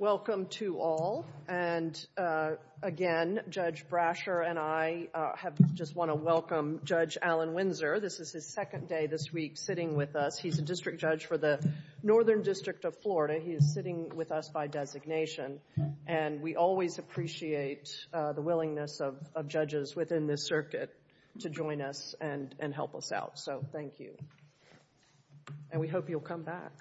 Welcome to all. And again, Judge Brasher and I just want to welcome Judge Alan Windsor. This is his second day this week sitting with us. He's a district judge for the Northern District of Florida. He is sitting with us by designation. And we always appreciate the and help us out. So thank you. And we hope you'll come back.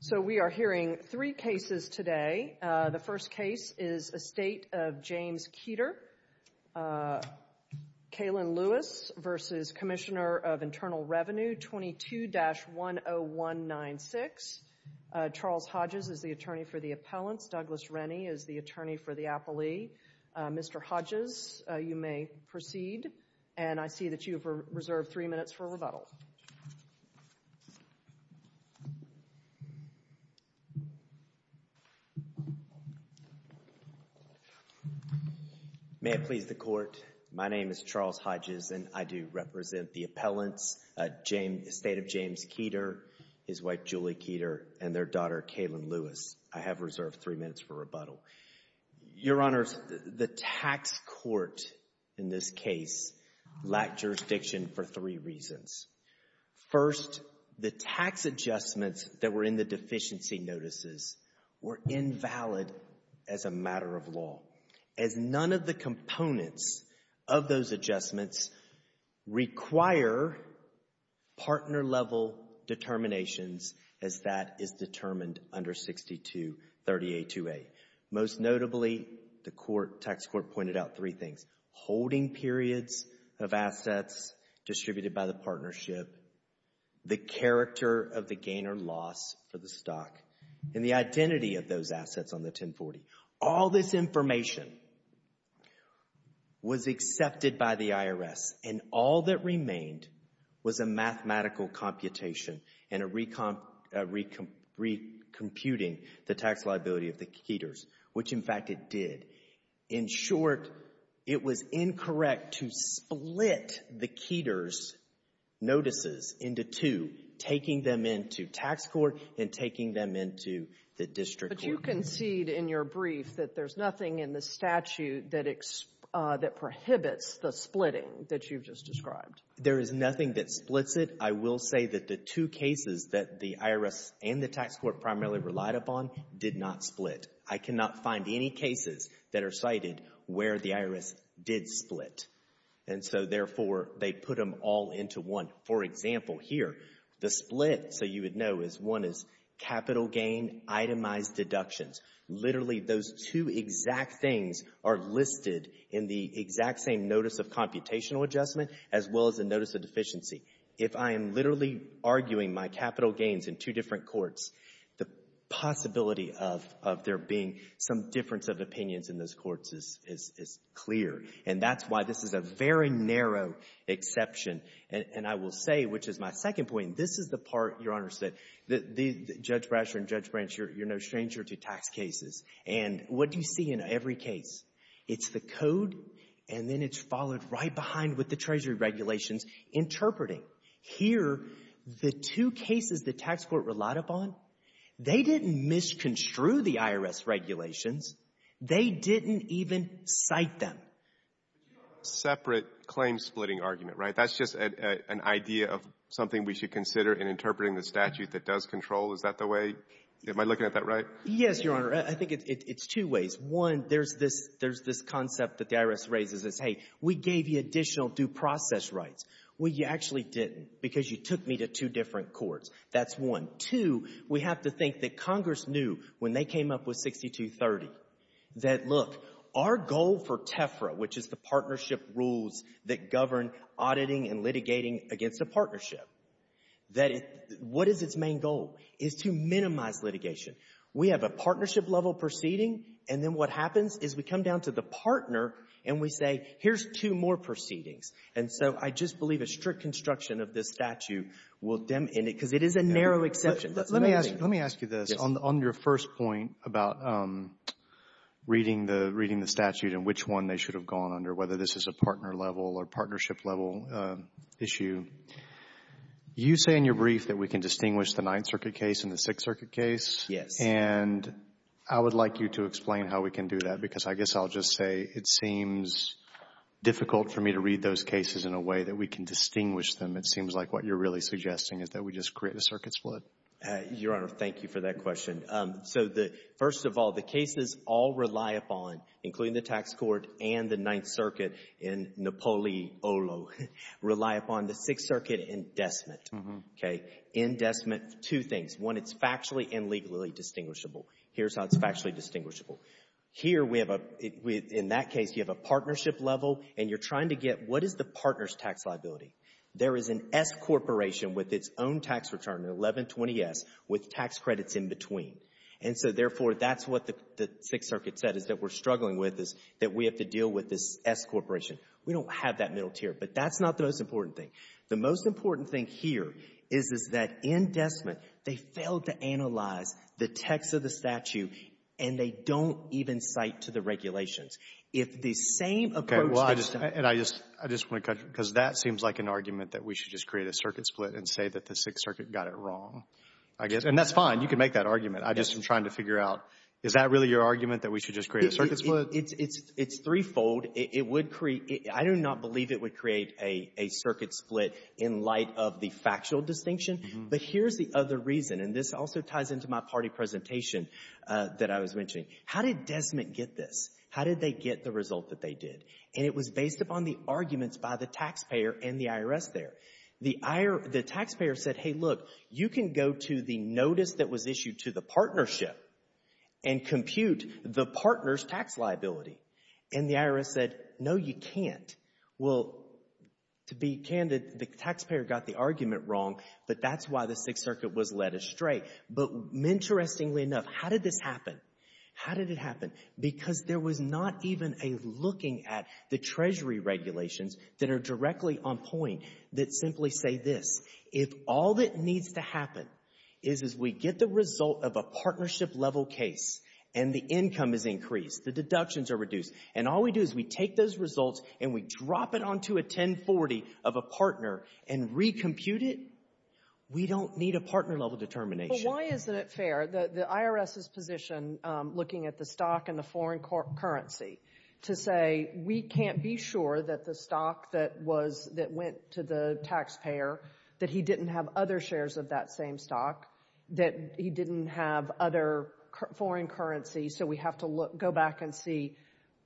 So we are hearing three cases today. The first case is Estate of James Keeter. Kalen Lewis v. Commissioner of Internal Revenue 22-10196. Charles Hodges is the attorney for the appellants. Douglas Rennie is the attorney for the appellee. Mr. Hodges, you may proceed. And I see that you have reserved three minutes for rebuttal. May it please the Court, my name is Charles Hodges and I do represent the appellants, Estate of James Keeter, his wife Julie Keeter, and their daughter Kalen Lewis. I have reserved three minutes for rebuttal. Your Honors, the tax court in this case lacked jurisdiction for three reasons. First, the tax adjustments that were in the deficiency notices were invalid as a matter of law, as that is determined under 623828. Most notably, the tax court pointed out three things. Holding periods of assets distributed by the partnership, the character of the gain or loss for the stock, and the identity of those assets on the 1040. All this information was accepted by the IRS and all that remained was a mathematical computation and a recomputing the tax liability of the Keeters, which in fact it did. In short, it was incorrect to split the Keeters notices into two, taking them into tax court and taking them into the district court. You concede in your brief that there's nothing in the statute that prohibits the splitting that you've just described. There is nothing that splits it. I will say that the two cases that the IRS and the tax court primarily relied upon did not split. I cannot find any cases that are cited where the IRS did split. And so therefore, they put them all into one. For example, here, the split, so you would know, is one is capital gain itemized deductions. Literally, those two exact things are listed in the exact same notice of computational adjustment as well as the notice of deficiency. If I am literally arguing my capital gains in two different courts, the possibility of there being some difference of opinions in those courts is clear. And that's why this is a very narrow exception. And I will say, which is my second point, this is the part, Your Honors, that Judge Brasher and Judge Branch, you're no stranger to tax cases. And what do you see in every case? It's the code, and then it's followed right behind with the Treasury regulations interpreting. Here, the two cases the tax court relied upon, they didn't misconstrue the IRS regulations. They didn't even cite them. But you have a separate claim-splitting argument, right? That's just an idea of something we should consider in interpreting the statute that does control. Is that the way? Am I looking at that right? Yes, Your Honor. I think it's two ways. One, there's this concept that the IRS raises is, hey, we gave you additional due process rights. Well, you actually didn't because you took me to two different courts. That's one. Two, we have to think that Congress knew when they came up with 6230 that, look, our goal for TEFRA, which is the partnership rules that govern auditing and litigating against a partnership, that what is its main goal is to minimize litigation. We have a partnership-level proceeding, and then what happens is we come down to the partner and we say, here's two more proceedings. And so I just believe a strict construction of this statute will dim in it because it is a narrow exception. Let me ask you this. On your first point about reading the statute and which one they should have gone under, whether this is a partner-level or partnership-level issue, you say in your brief that we can distinguish the Ninth Circuit case and the Sixth Circuit case. Yes. And I would like you to explain how we can do that because I guess I'll just say it seems difficult for me to read those cases in a way that we can distinguish them. It seems like what you're really suggesting is that we just create a circuit split. Your Honor, thank you for that question. So the first of all, the cases all rely upon, including the tax court and the Ninth Circuit in Napoli Olo, rely upon the Sixth Circuit indecement. Okay. Indecement, two things. One, it's factually and legally distinguishable. Here's how it's factually distinguishable. Here we have a, in that case, you have a partnership level and you're trying to get what is the partner's tax liability? There is an S corporation with its own tax return, an 1120S, with tax credits in between. And so, therefore, that's what the Sixth Circuit said is that we're struggling with is that we have to deal with this S corporation. We don't have that middle tier. But that's not the most important thing. The most important thing here is, is that indecement, they failed to analyze the text of the statute and they don't even cite to the regulations. If the same approach that's done — I'm not making an argument that we should just create a circuit split and say that the Sixth Circuit got it wrong, I guess. And that's fine. You can make that argument. I just am trying to figure out, is that really your argument that we should just create a circuit split? It's threefold. It would create — I do not believe it would create a circuit split in light of the factual distinction. But here's the other reason. And this also ties into my party presentation that I was mentioning. How did Desmet get this? How did they get the result that they did? And it was based upon the arguments by the taxpayer and the IRS there. The taxpayer said, hey, look, you can go to the notice that was issued to the partnership and compute the partner's tax liability. And the IRS said, no, you can't. Well, to be candid, the taxpayer got the argument wrong. But that's why the Sixth Circuit was led astray. But interestingly enough, how did this happen? How did it happen? Because there was not even a looking at the Treasury regulations that are directly on point that simply say this. If all that needs to happen is, is we get the result of a partnership-level case and the income is increased, the deductions are reduced, and all we do is we take those results and we drop it onto a 1040 of a partner and recompute it, we don't need a partner-level determination. Why isn't it fair? The IRS's position, looking at the stock and the foreign currency, to say we can't be sure that the stock that was, that went to the taxpayer, that he didn't have other shares of that same stock, that he didn't have other foreign currency. So we have to look, go back and see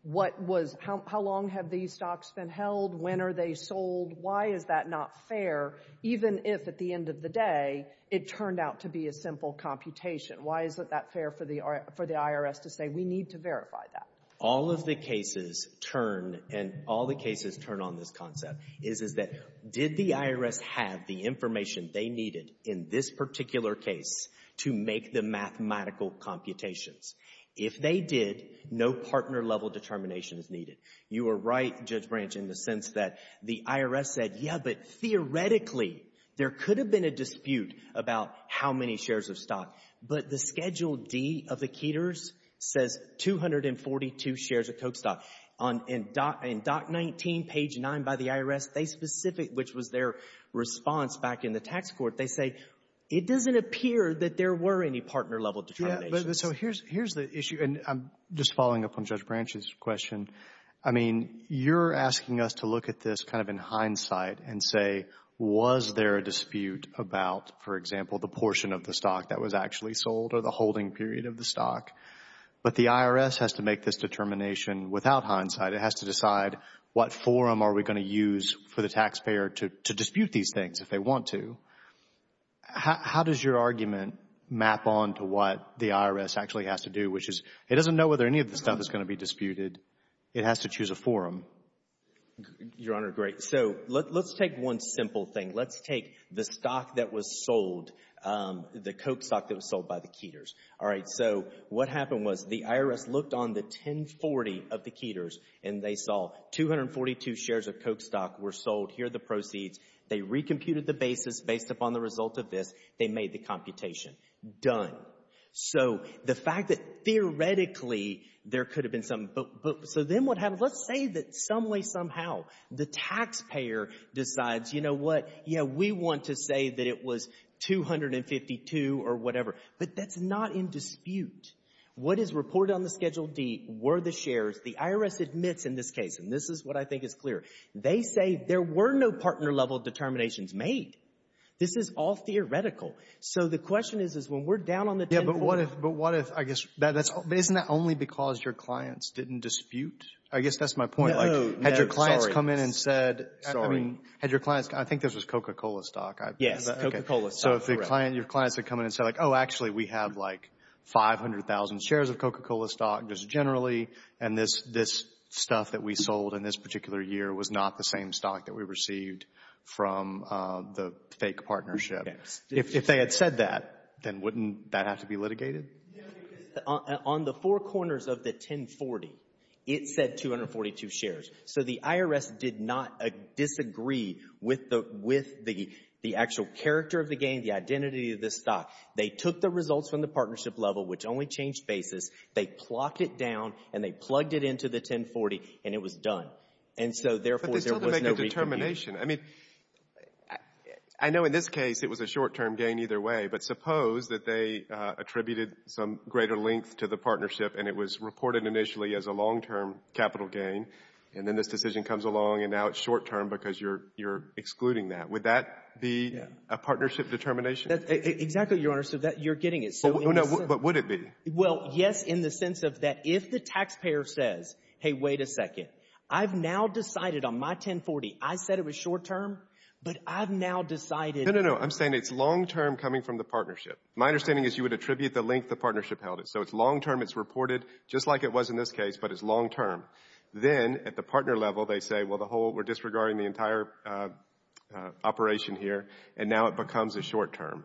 what was, how long have these stocks been held? When are they sold? Why is that not fair? Even if, at the end of the day, it turned out to be a simple computation. Why isn't that fair for the IRS to say, we need to verify that? All of the cases turn, and all the cases turn on this concept, is, is that did the IRS have the information they needed in this particular case to make the mathematical computations? You are right, Judge Branch, in the sense that the IRS said, yeah, but theoretically, there could have been a dispute about how many shares of stock. But the Schedule D of the Keters says 242 shares of Coke stock. On, in Doc 19, page 9 by the IRS, they specific, which was their response back in the tax court, they say, it doesn't appear that there were any partner-level determinations. But, so here's, here's the issue, and I'm just following up on Judge Branch's question. I mean, you're asking us to look at this kind of in hindsight and say, was there a dispute about, for example, the portion of the stock that was actually sold or the holding period of the stock? But the IRS has to make this determination without hindsight. It has to decide, what forum are we going to use for the taxpayer to, to dispute these things if they want to? How, how does your argument map on to what the IRS actually has to do, which is, it doesn't know whether any of the stuff is going to be disputed. It has to choose a forum. Your Honor, great. So, let's take one simple thing. Let's take the stock that was sold, the Coke stock that was sold by the Keters. All right, so what happened was, the IRS looked on the 1040 of the Keters, and they saw 242 shares of Coke stock were sold. Here are the proceeds. They recomputed the basis based upon the result of this. They made the computation. Done. So, the fact that theoretically, there could have been some, but, but, so then what happened, let's say that some way, somehow, the taxpayer decides, you know what, yeah, we want to say that it was 252 or whatever, but that's not in dispute. What is reported on the Schedule D were the shares. The IRS admits in this case, and this is what I think is clear, they say there were no partner-level determinations made. This is all theoretical. So, the question is, is when we're down on the 1040. Yeah, but what if, but what if, I guess, that's, isn't that only because your clients didn't dispute? I guess that's my point. No, no, sorry. Like, had your clients come in and said, I mean, had your clients, I think this was Coca-Cola stock. Yes, Coca-Cola stock, correct. So, if the client, your clients had come in and said, like, oh, actually, we have, like, 500,000 shares of Coca-Cola stock just generally, and this, this stuff that we sold in this particular year was not the same stock that we received from the fake partnership. If they had said that, then wouldn't that have to be litigated? On the four corners of the 1040, it said 242 shares. So, the IRS did not disagree with the, with the, the actual character of the game, the identity of this stock. They took the results from the partnership level, which only changed basis. They plopped it down, and they plugged it into the 1040, and it was done. And so, therefore, there was no re-computing. But they still didn't make a determination. I mean, I know in this case, it was a short-term gain either way, but suppose that they attributed some greater length to the partnership, and it was reported initially as a long-term capital gain, and then this decision comes along, and now it's short-term because you're, you're excluding that. Would that be a partnership determination? That's, exactly, Your Honor. So, that, you're getting it. So, in the sense... No, no, but would it be? Well, yes, in the sense of that if the taxpayer says, hey, wait a second, I've now decided on my 1040, I said it was short-term, but I've now decided... No, no, no. I'm saying it's long-term coming from the partnership. My understanding is you would attribute the length the partnership held it. So, it's long-term. It's reported, just like it was in this case, but it's long-term. Then, at the partner level, they say, well, the whole, we're disregarding the entire operation here, and now it becomes a short-term.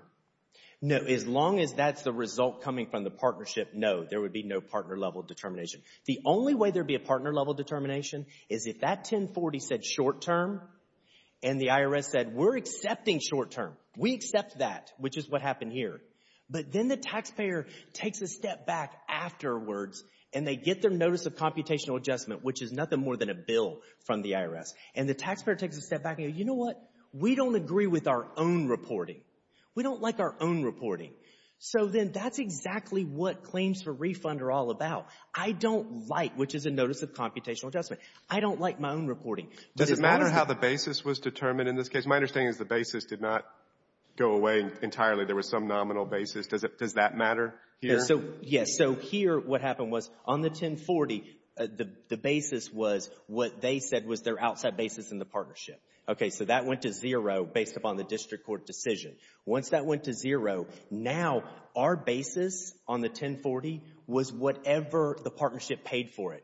No, as long as that's the result coming from the partnership, no, there would be no partner-level determination. The only way there'd be a partner-level determination is if that 1040 said short-term, and the IRS said, we're accepting short-term. We accept that, which is what happened here. But then, the taxpayer takes a step back afterwards, and they get their notice of computational adjustment, which is nothing more than a bill from the IRS. And the taxpayer takes a step back and go, you know what? We don't agree with our own reporting. We don't like our own reporting. So then, that's exactly what claims for refund are all about. I don't like, which is a notice of computational adjustment, I don't like my own reporting. Does it matter how the basis was determined in this case? My understanding is the basis did not go away entirely. There was some nominal basis. Does that matter here? Yes, so here, what happened was, on the 1040, the basis was what they said was their outside basis in the partnership. Okay, so that went to zero based upon the district court decision. Once that went to zero, now, our basis on the 1040 was whatever the partnership paid for it.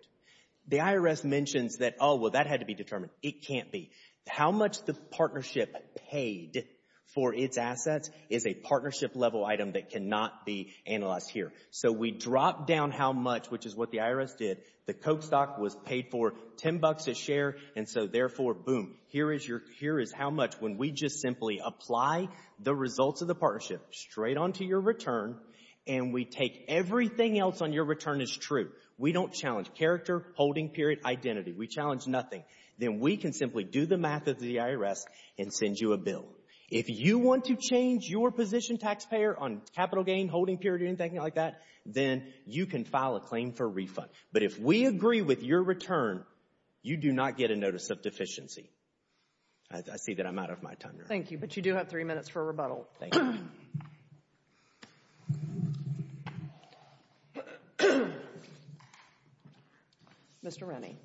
The IRS mentions that, oh, well, that had to be determined. It can't be. How much the partnership paid for its assets is a partnership-level item that cannot be analyzed here. So, we drop down how much, which is what the IRS did. The Coke stock was paid for $10 a share, and so, therefore, boom, here is how much when we just simply apply the results of the partnership straight onto your return, and we take everything else on your return as true. We don't challenge character, holding period, identity. We challenge nothing. Then, we can simply do the math of the IRS and send you a bill. If you want to change your position taxpayer on capital gain, holding period, anything like that, then you can file a claim for refund. But if we agree with your return, you do not get a notice of deficiency. I see that I'm out of my tundra. Thank you. But you do have three minutes for a rebuttal. Thank you. Mr. Rennie.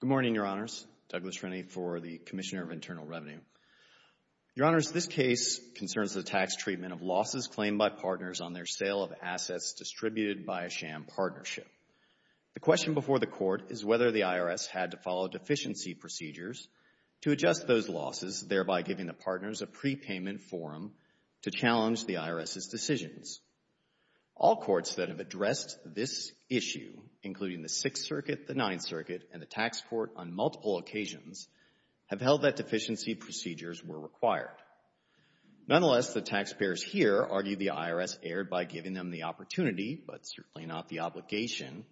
Good morning, Your Honors. Douglas Rennie for the Commissioner of Internal Revenue. Your Honors, this case concerns the tax treatment of losses claimed by partners on their sale of assets distributed by a sham partnership. The question before the Court is whether the IRS had to follow deficiency procedures to adjust those losses, thereby giving the partners a prepayment forum to challenge the IRS's decisions. All courts that have addressed this issue, including the Sixth Circuit, the Ninth Circuit, and the Tax Court on multiple occasions, have held that deficiency procedures were required. Nonetheless, the taxpayers here argue the IRS erred by giving them the opportunity, but certainly not the obligation,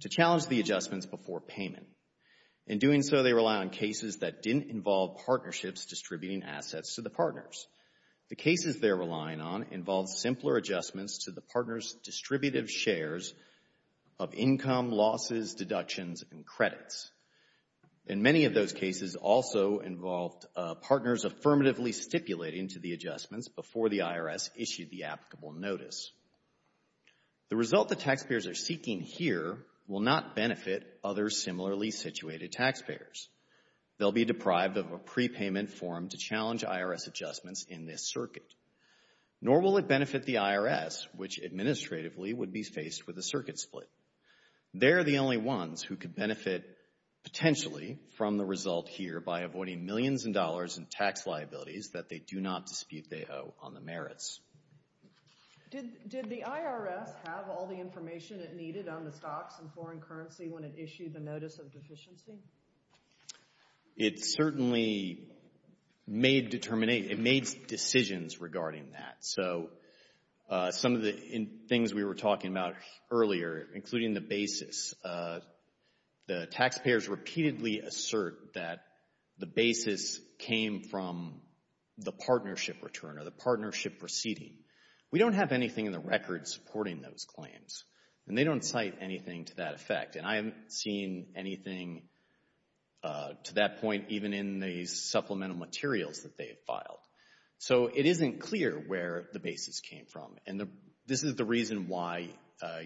to challenge the adjustments before payment. In doing so, they rely on cases that didn't involve partnerships distributing assets to the partners. The cases they're relying on involve simpler adjustments to the partners' distributive shares of income, losses, deductions, and credits. In many of those cases, also involved partners affirmatively stipulating to the adjustments before the IRS issued the applicable notice. The result the taxpayers are seeking here will not benefit other similarly situated taxpayers. They'll be deprived of a prepayment forum to challenge IRS adjustments in this circuit. Nor will it benefit the IRS, which administratively would be faced with a circuit split. They're the only ones who could benefit potentially from the result here by avoiding millions in dollars in tax liabilities that they do not dispute they owe on the merits. Did the IRS have all the information it needed on the stocks and foreign currency when it issued the notice of deficiency? It certainly made determinate, it made decisions regarding that. So, some of the things we were talking about earlier, including the basis, the taxpayers repeatedly assert that the basis came from the partnership return or the partnership proceeding. We don't have anything in the record supporting those claims, and they don't cite anything to that effect. And I haven't seen anything to that point even in the supplemental materials that they have filed. So, it isn't clear where the basis came from. And this is the reason why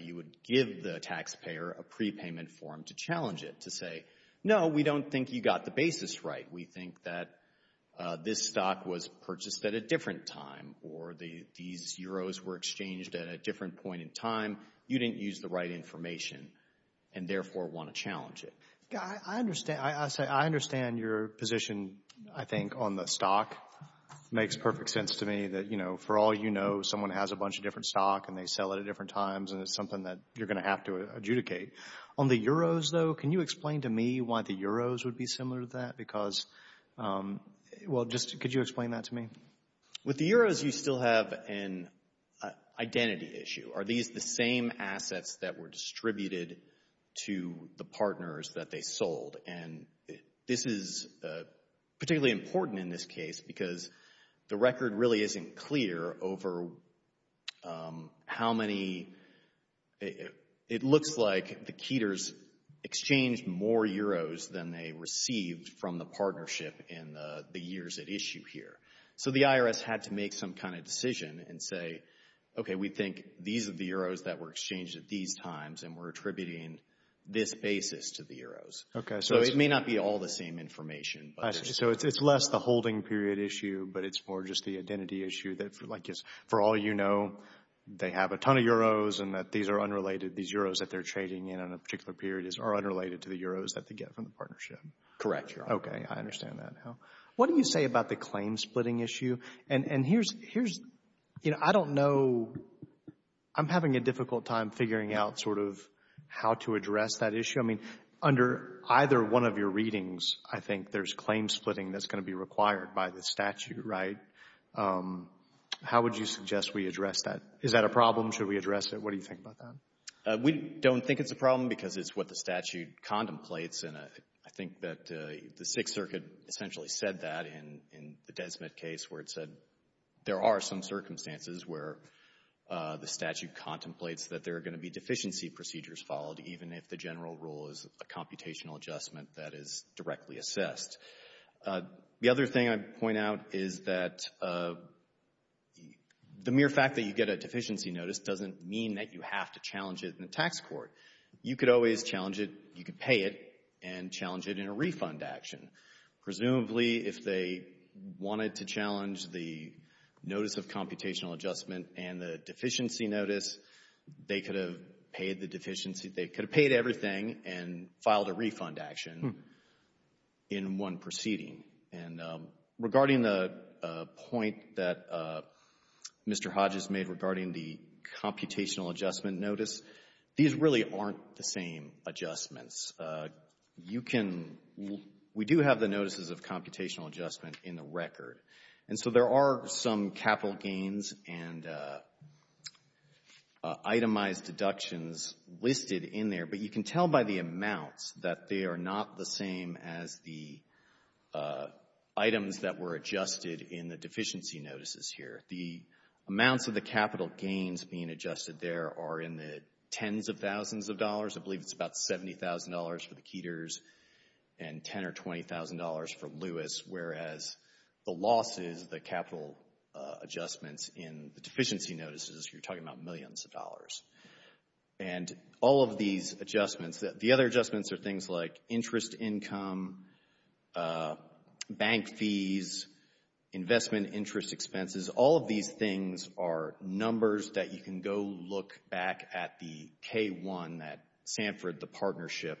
you would give the taxpayer a prepayment forum to challenge it, to say, no, we don't think you got the basis right. We think that this stock was purchased at a different time, or these euros were exchanged at a different point in time. You didn't use the right information. And therefore, want to challenge it. I understand, I say, I understand your position, I think, on the stock. Makes perfect sense to me that, you know, for all you know, someone has a bunch of different stock, and they sell it at different times, and it's something that you're going to have to adjudicate. On the euros though, can you explain to me why the euros would be similar to that? Because, well, just could you explain that to me? With the euros, you still have an identity issue. Are these the same assets that were distributed to the partners that they sold? And this is particularly important in this case, because the record really isn't clear over how many, it looks like the Keters exchanged more euros than they received from the partnership in the years at issue here. So the IRS had to make some kind of decision and say, okay, we think these are the euros that were exchanged at these times, and we're attributing this basis to the euros. So it may not be all the same information. So it's less the holding period issue, but it's more just the identity issue that, like, for all you know, they have a ton of euros, and that these are unrelated. These euros that they're trading in on a particular period are unrelated to the euros that they get from the partnership. Correct, Your Honor. Okay, I understand that now. What do you say about the claim-splitting issue? And here's, you know, I don't know, I'm having a difficult time figuring out sort of how to address that issue. I mean, under either one of your readings, I think there's claim-splitting that's going to be required by the statute, right? How would you suggest we address that? Is that a problem? Should we address it? What do you think about that? We don't think it's a problem, because it's what the statute contemplates, and I think that the Sixth Circuit essentially said that in the Desmet case, where it said there are some circumstances where the statute contemplates that there are going to be deficiency procedures followed, even if the general rule is a computational adjustment that is directly assessed. The other thing I'd point out is that the mere fact that you get a deficiency notice doesn't mean that you have to challenge it in the tax court. You could always challenge it, you could pay it, and challenge it in a refund action. Presumably, if they wanted to challenge the notice of computational adjustment and the deficiency notice, they could have paid the deficiency, they could have paid everything and filed a refund action in one proceeding. And regarding the point that Mr. Hodges made regarding the computational adjustment notice, these really aren't the same adjustments. You can, we do have the notices of computational adjustment in the record. And so there are some capital gains and itemized deductions listed in there, but you can tell by the amounts that they are not the same as the items that were adjusted in the deficiency notices here. The amounts of the capital gains being adjusted there are in the tens of thousands of dollars. I believe it's about $70,000 for the Keters and $10,000 or $20,000 for Lewis, whereas the losses, the capital adjustments in the deficiency notices, you're talking about millions of dollars. And all of these adjustments, the other adjustments are things like interest income, bank fees, investment interest expenses. All of these things are numbers that you can go look back at the K-1 that Sanford, the partnership,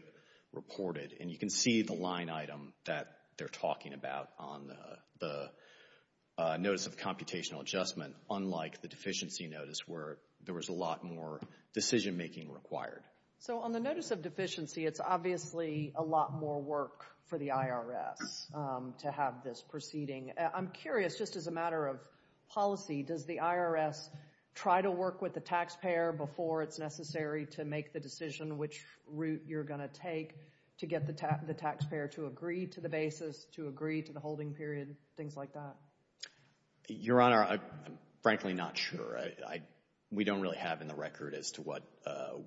reported. And you can see the line item that they're talking about on the notice of computational adjustment, unlike the deficiency notice where there was a lot more decision making required. So on the notice of deficiency, it's obviously a lot more work for the IRS to have this proceeding. I'm curious, just as a matter of policy, does the IRS try to work with the taxpayer before it's necessary to make the decision which route you're going to take to get the taxpayer to agree to the basis, to agree to the holding period, things like that? Your Honor, I'm frankly not sure. We don't really have in the record as to what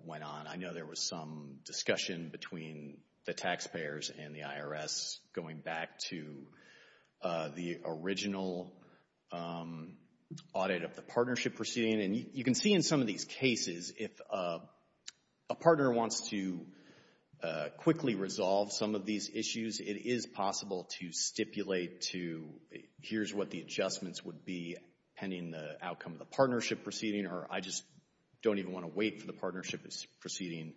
went on. I know there was some discussion between the taxpayers and the IRS going back to the original audit of the partnership proceeding. And you can see in some of these cases, if a partner wants to quickly resolve some of these issues, it is possible to stipulate to, here's what the adjustments would be pending the outcome of the partnership proceeding. I just don't even want to wait for the partnership proceeding.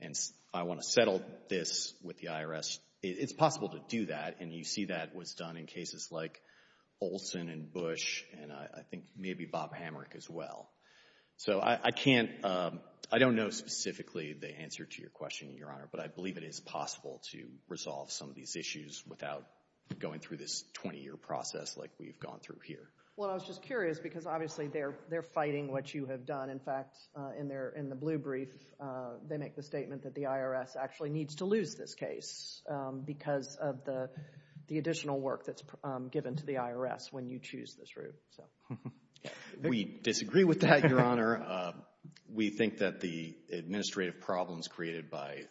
And I want to settle this with the IRS. It's possible to do that. And you see that was done in cases like Olson and Bush and I think maybe Bob Hamrick as well. So I can't, I don't know specifically the answer to your question, Your Honor. But I believe it is possible to resolve some of these issues without going through this 20-year process like we've gone through here. Well, I was just curious because obviously they're fighting what you have done. In fact, in the blue brief, they make the statement that the IRS actually needs to lose this case because of the additional work that's given to the IRS when you choose this route. We disagree with that, Your Honor. We think that the administrative problems created by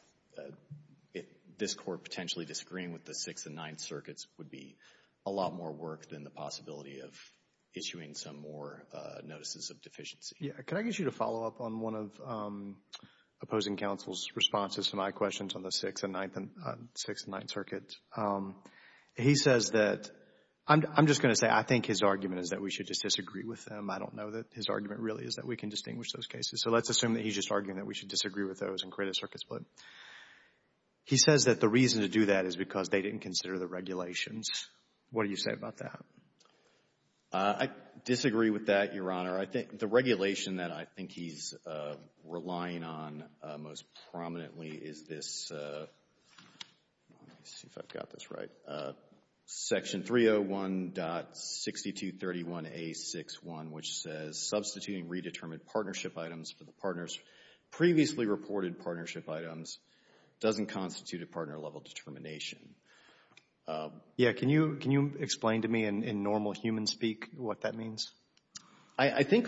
this Court potentially disagreeing with the Sixth and Ninth Circuits would be a lot more work than the possibility of issuing some more notices of deficiency. Yeah. Can I get you to follow up on one of opposing counsel's responses to my questions on the Sixth and Ninth Circuit? He says that, I'm just going to say I think his argument is that we should just disagree with them. I don't know that his argument really is that we can distinguish those cases. So let's assume that he's just arguing that we should disagree with those and create a circuit split. He says that the reason to do that is because they didn't consider the regulations. What do you say about that? I disagree with that, Your Honor. I think the regulation that I think he's relying on most prominently is this, let me see if I've got this right, Section 301.6231A.6.1, which says, substituting redetermined partnership items for the partner's previously reported partnership items doesn't constitute a partner-level determination. Yeah. Can you explain to me in normal human speak what that means? I think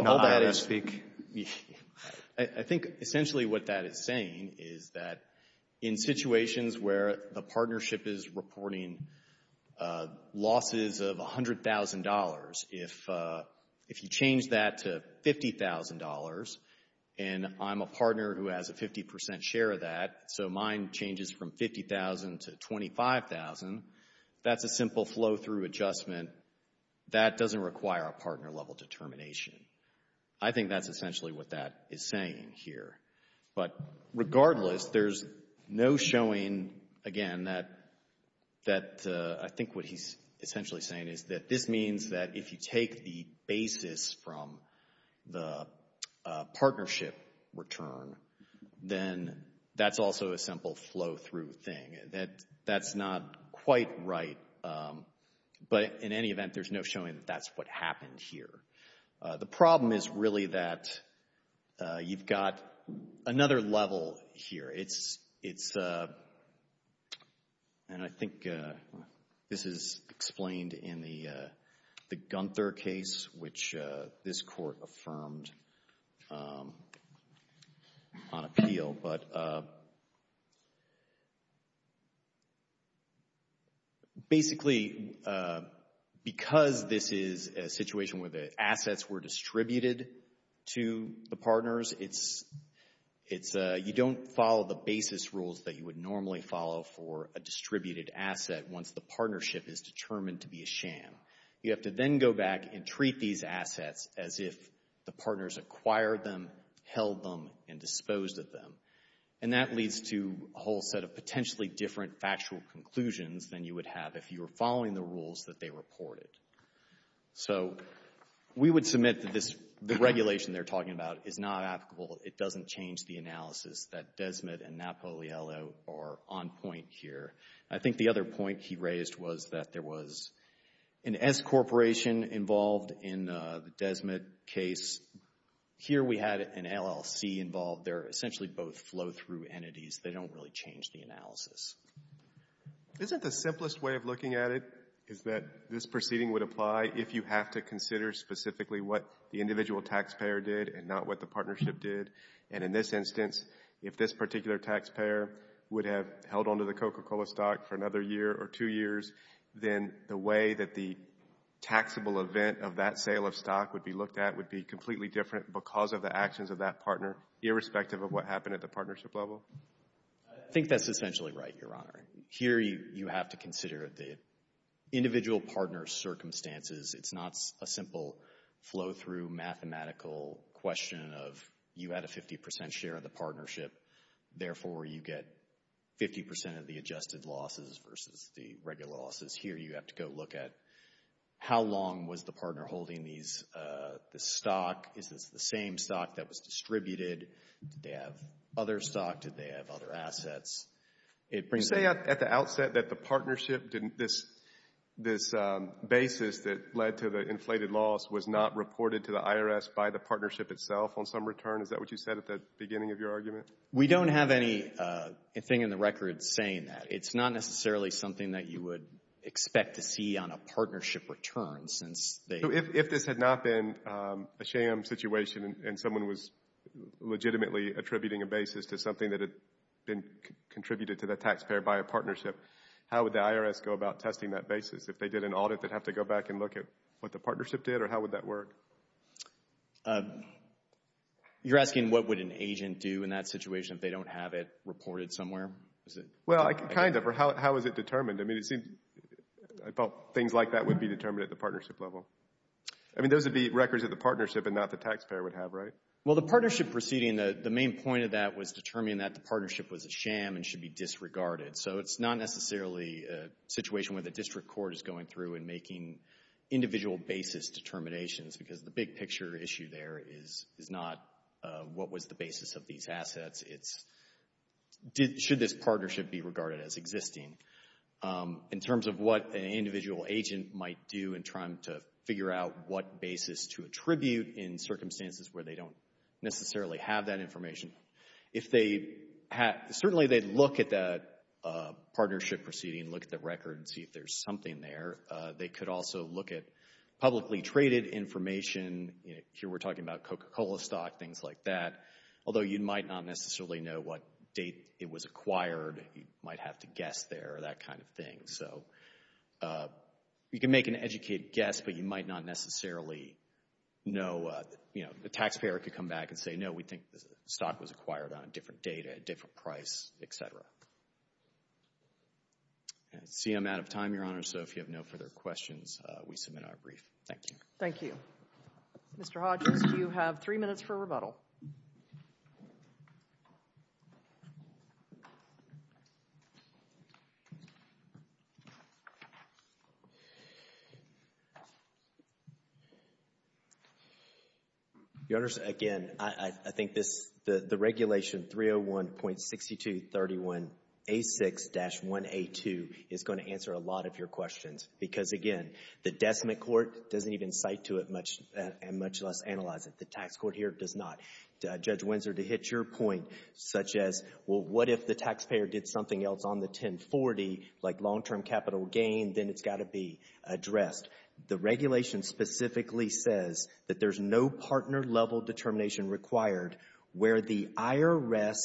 essentially what that is saying is that in situations where the partnership is and I'm a partner who has a 50% share of that, so mine changes from $50,000 to $25,000, that's a simple flow-through adjustment. That doesn't require a partner-level determination. I think that's essentially what that is saying here. But regardless, there's no showing, again, that I think what he's essentially saying is that this means that if you take the basis from the partnership return, then that's also a simple flow-through thing. That's not quite right. But in any event, there's no showing that that's what happened here. The problem is really that you've got another level here. And I think this is explained in the Gunther case, which this court affirmed on appeal. But basically, because this is a situation where the assets were distributed to the partners, it's, you don't follow the basis rules that you would normally follow for a distributed asset once the partnership is determined to be a sham. You have to then go back and treat these assets as if the partners acquired them, held them, and disposed of them. And that leads to a whole set of potentially different factual conclusions than you would have if you were following the rules that they reported. So we would submit that the regulation they're talking about is not applicable. It doesn't change the analysis that Desmet and Napolio are on point here. I think the other point he raised was that there was an S corporation involved in the Desmet case. Here we had an LLC involved. They're essentially both flow-through entities. They don't really change the analysis. Isn't the simplest way of looking at it is that this proceeding would apply if you have to consider specifically what the individual taxpayer did and not what the partnership did? And in this instance, if this particular taxpayer would have held onto the Coca-Cola stock for another year or two years, then the way that the taxable event of that sale of stock would be looked at would be completely different because of the actions of that partner, irrespective of what happened at the partnership level? I think that's essentially right, Your Honor. Here you have to consider the individual partner's circumstances. It's not a simple flow-through mathematical question of you had a 50% share of the partnership. Therefore, you get 50% of the adjusted losses versus the regular losses. Here you have to go look at how long was the partner holding this stock? Is this the same stock that was distributed? Did they have other stock? Did they have other assets? You say at the outset that the partnership didn't, this basis that led to the inflated loss was not reported to the IRS by the partnership itself on some return? Is that what you said at the beginning of your argument? We don't have anything in the record saying that. It's not necessarily something that you would expect to see on a partnership return since they... If this had not been a sham situation and someone was legitimately attributing a basis to something that had been contributed to the taxpayer by a partnership, how would the IRS go about testing that basis? If they did an audit, they'd have to go back and look at what the partnership did, or how would that work? You're asking what would an agent do in that situation if they don't have it reported somewhere? Well, kind of, or how is it determined? I mean, it seems things like that would be determined at the partnership level. I mean, those would be records of the partnership and not the taxpayer would have, right? Well, the partnership proceeding, the main point of that was determining that the partnership was a sham and should be disregarded. So it's not necessarily a situation where the district court is going through and making individual basis determinations because the big picture issue there is not what was the basis of these assets. It's should this partnership be regarded as existing. In terms of what an individual agent might do in trying to figure out what basis to attribute in circumstances where they don't necessarily have that information, if they had, certainly they'd look at that partnership proceeding, look at the records, see if there's something there. They could also look at publicly traded information. Here we're talking about Coca-Cola stock, things like that. Although you might not necessarily know what date it was acquired. You might have to guess there, that kind of thing. So you can make an educated guess, but you might not necessarily know, you know, the taxpayer could come back and say, no, we think the stock was acquired on a different date at a different price, et cetera. See, I'm out of time, Your Honor. So if you have no further questions, we submit our brief. Thank you. Thank you. Mr. Hodges, you have three minutes for rebuttal. Your Honor, again, I think this, the regulation 301.6231A6-1A2 is going to answer a lot of your questions. Because again, the decimate court doesn't even cite to it much, and much less analyze it. The tax court here does not. Judge Windsor, to hit your point, such as, well, what if the taxpayer did something else on the 1040, like long-term capital gain, then it's got to be addressed. The regulation specifically says that there's no partner-level determination required where the IRS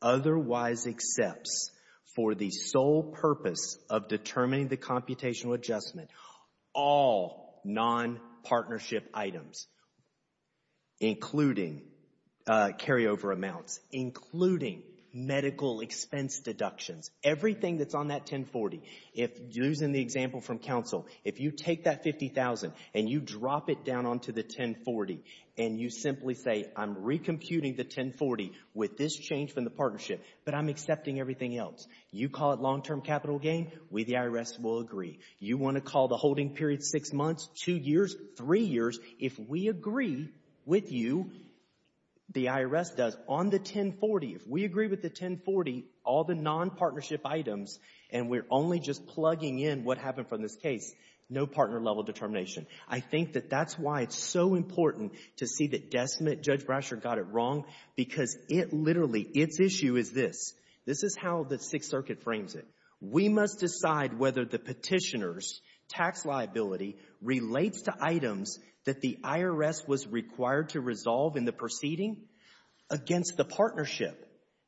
otherwise accepts for the sole purpose of determining the computational adjustment, all non-partnership items, including carryover amounts, including medical expense deductions, everything that's on that 1040. If, using the example from counsel, if you take that $50,000 and you drop it down onto the 1040, and you simply say, I'm recomputing the 1040 with this change from the partnership, but I'm accepting everything else. You call it long-term capital gain, we, the IRS, will agree. You want to call the holding period six months, two years, three years, if we agree with you, the IRS does. On the 1040, if we agree with the 1040, all the non-partnership items, and we're only just plugging in what happened from this case, no partner-level determination. I think that that's why it's so important to see that Desmond, Judge Brasher, got it wrong, because it literally, its issue is this. This is how the Sixth Circuit frames it. We must decide whether the petitioner's tax liability relates to items that the IRS was the partnership.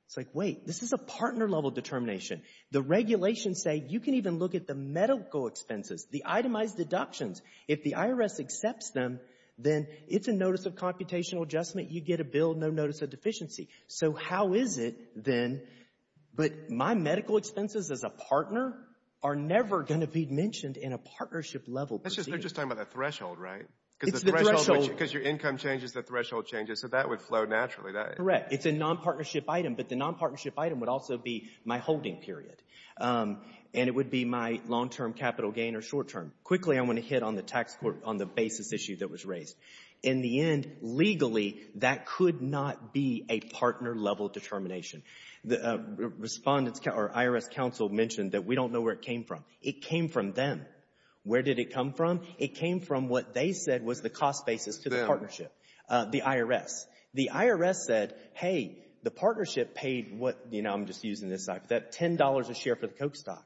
It's like, wait, this is a partner-level determination. The regulations say you can even look at the medical expenses, the itemized deductions. If the IRS accepts them, then it's a notice of computational adjustment. You get a bill, no notice of deficiency. So how is it then, but my medical expenses as a partner are never going to be mentioned in a partnership-level proceeding. They're just talking about that threshold, right? It's the threshold. Because your income changes, the threshold changes, so that would flow naturally. Correct. It's a non-partnership item, but the non-partnership item would also be my holding period, and it would be my long-term capital gain or short-term. Quickly, I want to hit on the basis issue that was raised. In the end, legally, that could not be a partner-level determination. The IRS counsel mentioned that we don't know where it came from. It came from them. Where did it come from? It came from what they said was the cost basis to the partnership, the IRS. The IRS said, hey, the partnership paid what, you know, I'm just using this, $10 a share for the Coke stock.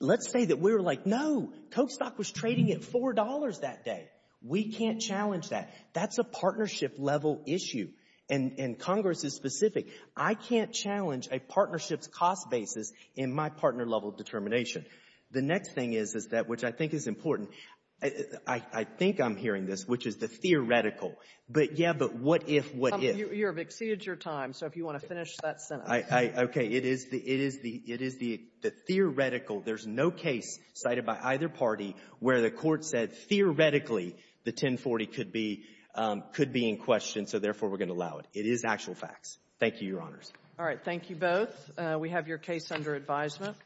Let's say that we were like, no, Coke stock was trading at $4 that day. We can't challenge that. That's a partnership-level issue, and Congress is specific. I can't challenge a partnership's cost basis in my partner-level determination. The next thing is that, which I think is important, I think I'm hearing this, which is the theoretical, but, yeah, but what if, what if? You have exceeded your time, so if you want to finish that sentence. Okay. It is the theoretical. There's no case cited by either party where the Court said, theoretically, the 1040 could be in question, so, therefore, we're going to allow it. It is actual facts. Thank you, Your Honors. All right. Thank you both. We have your case under advisement.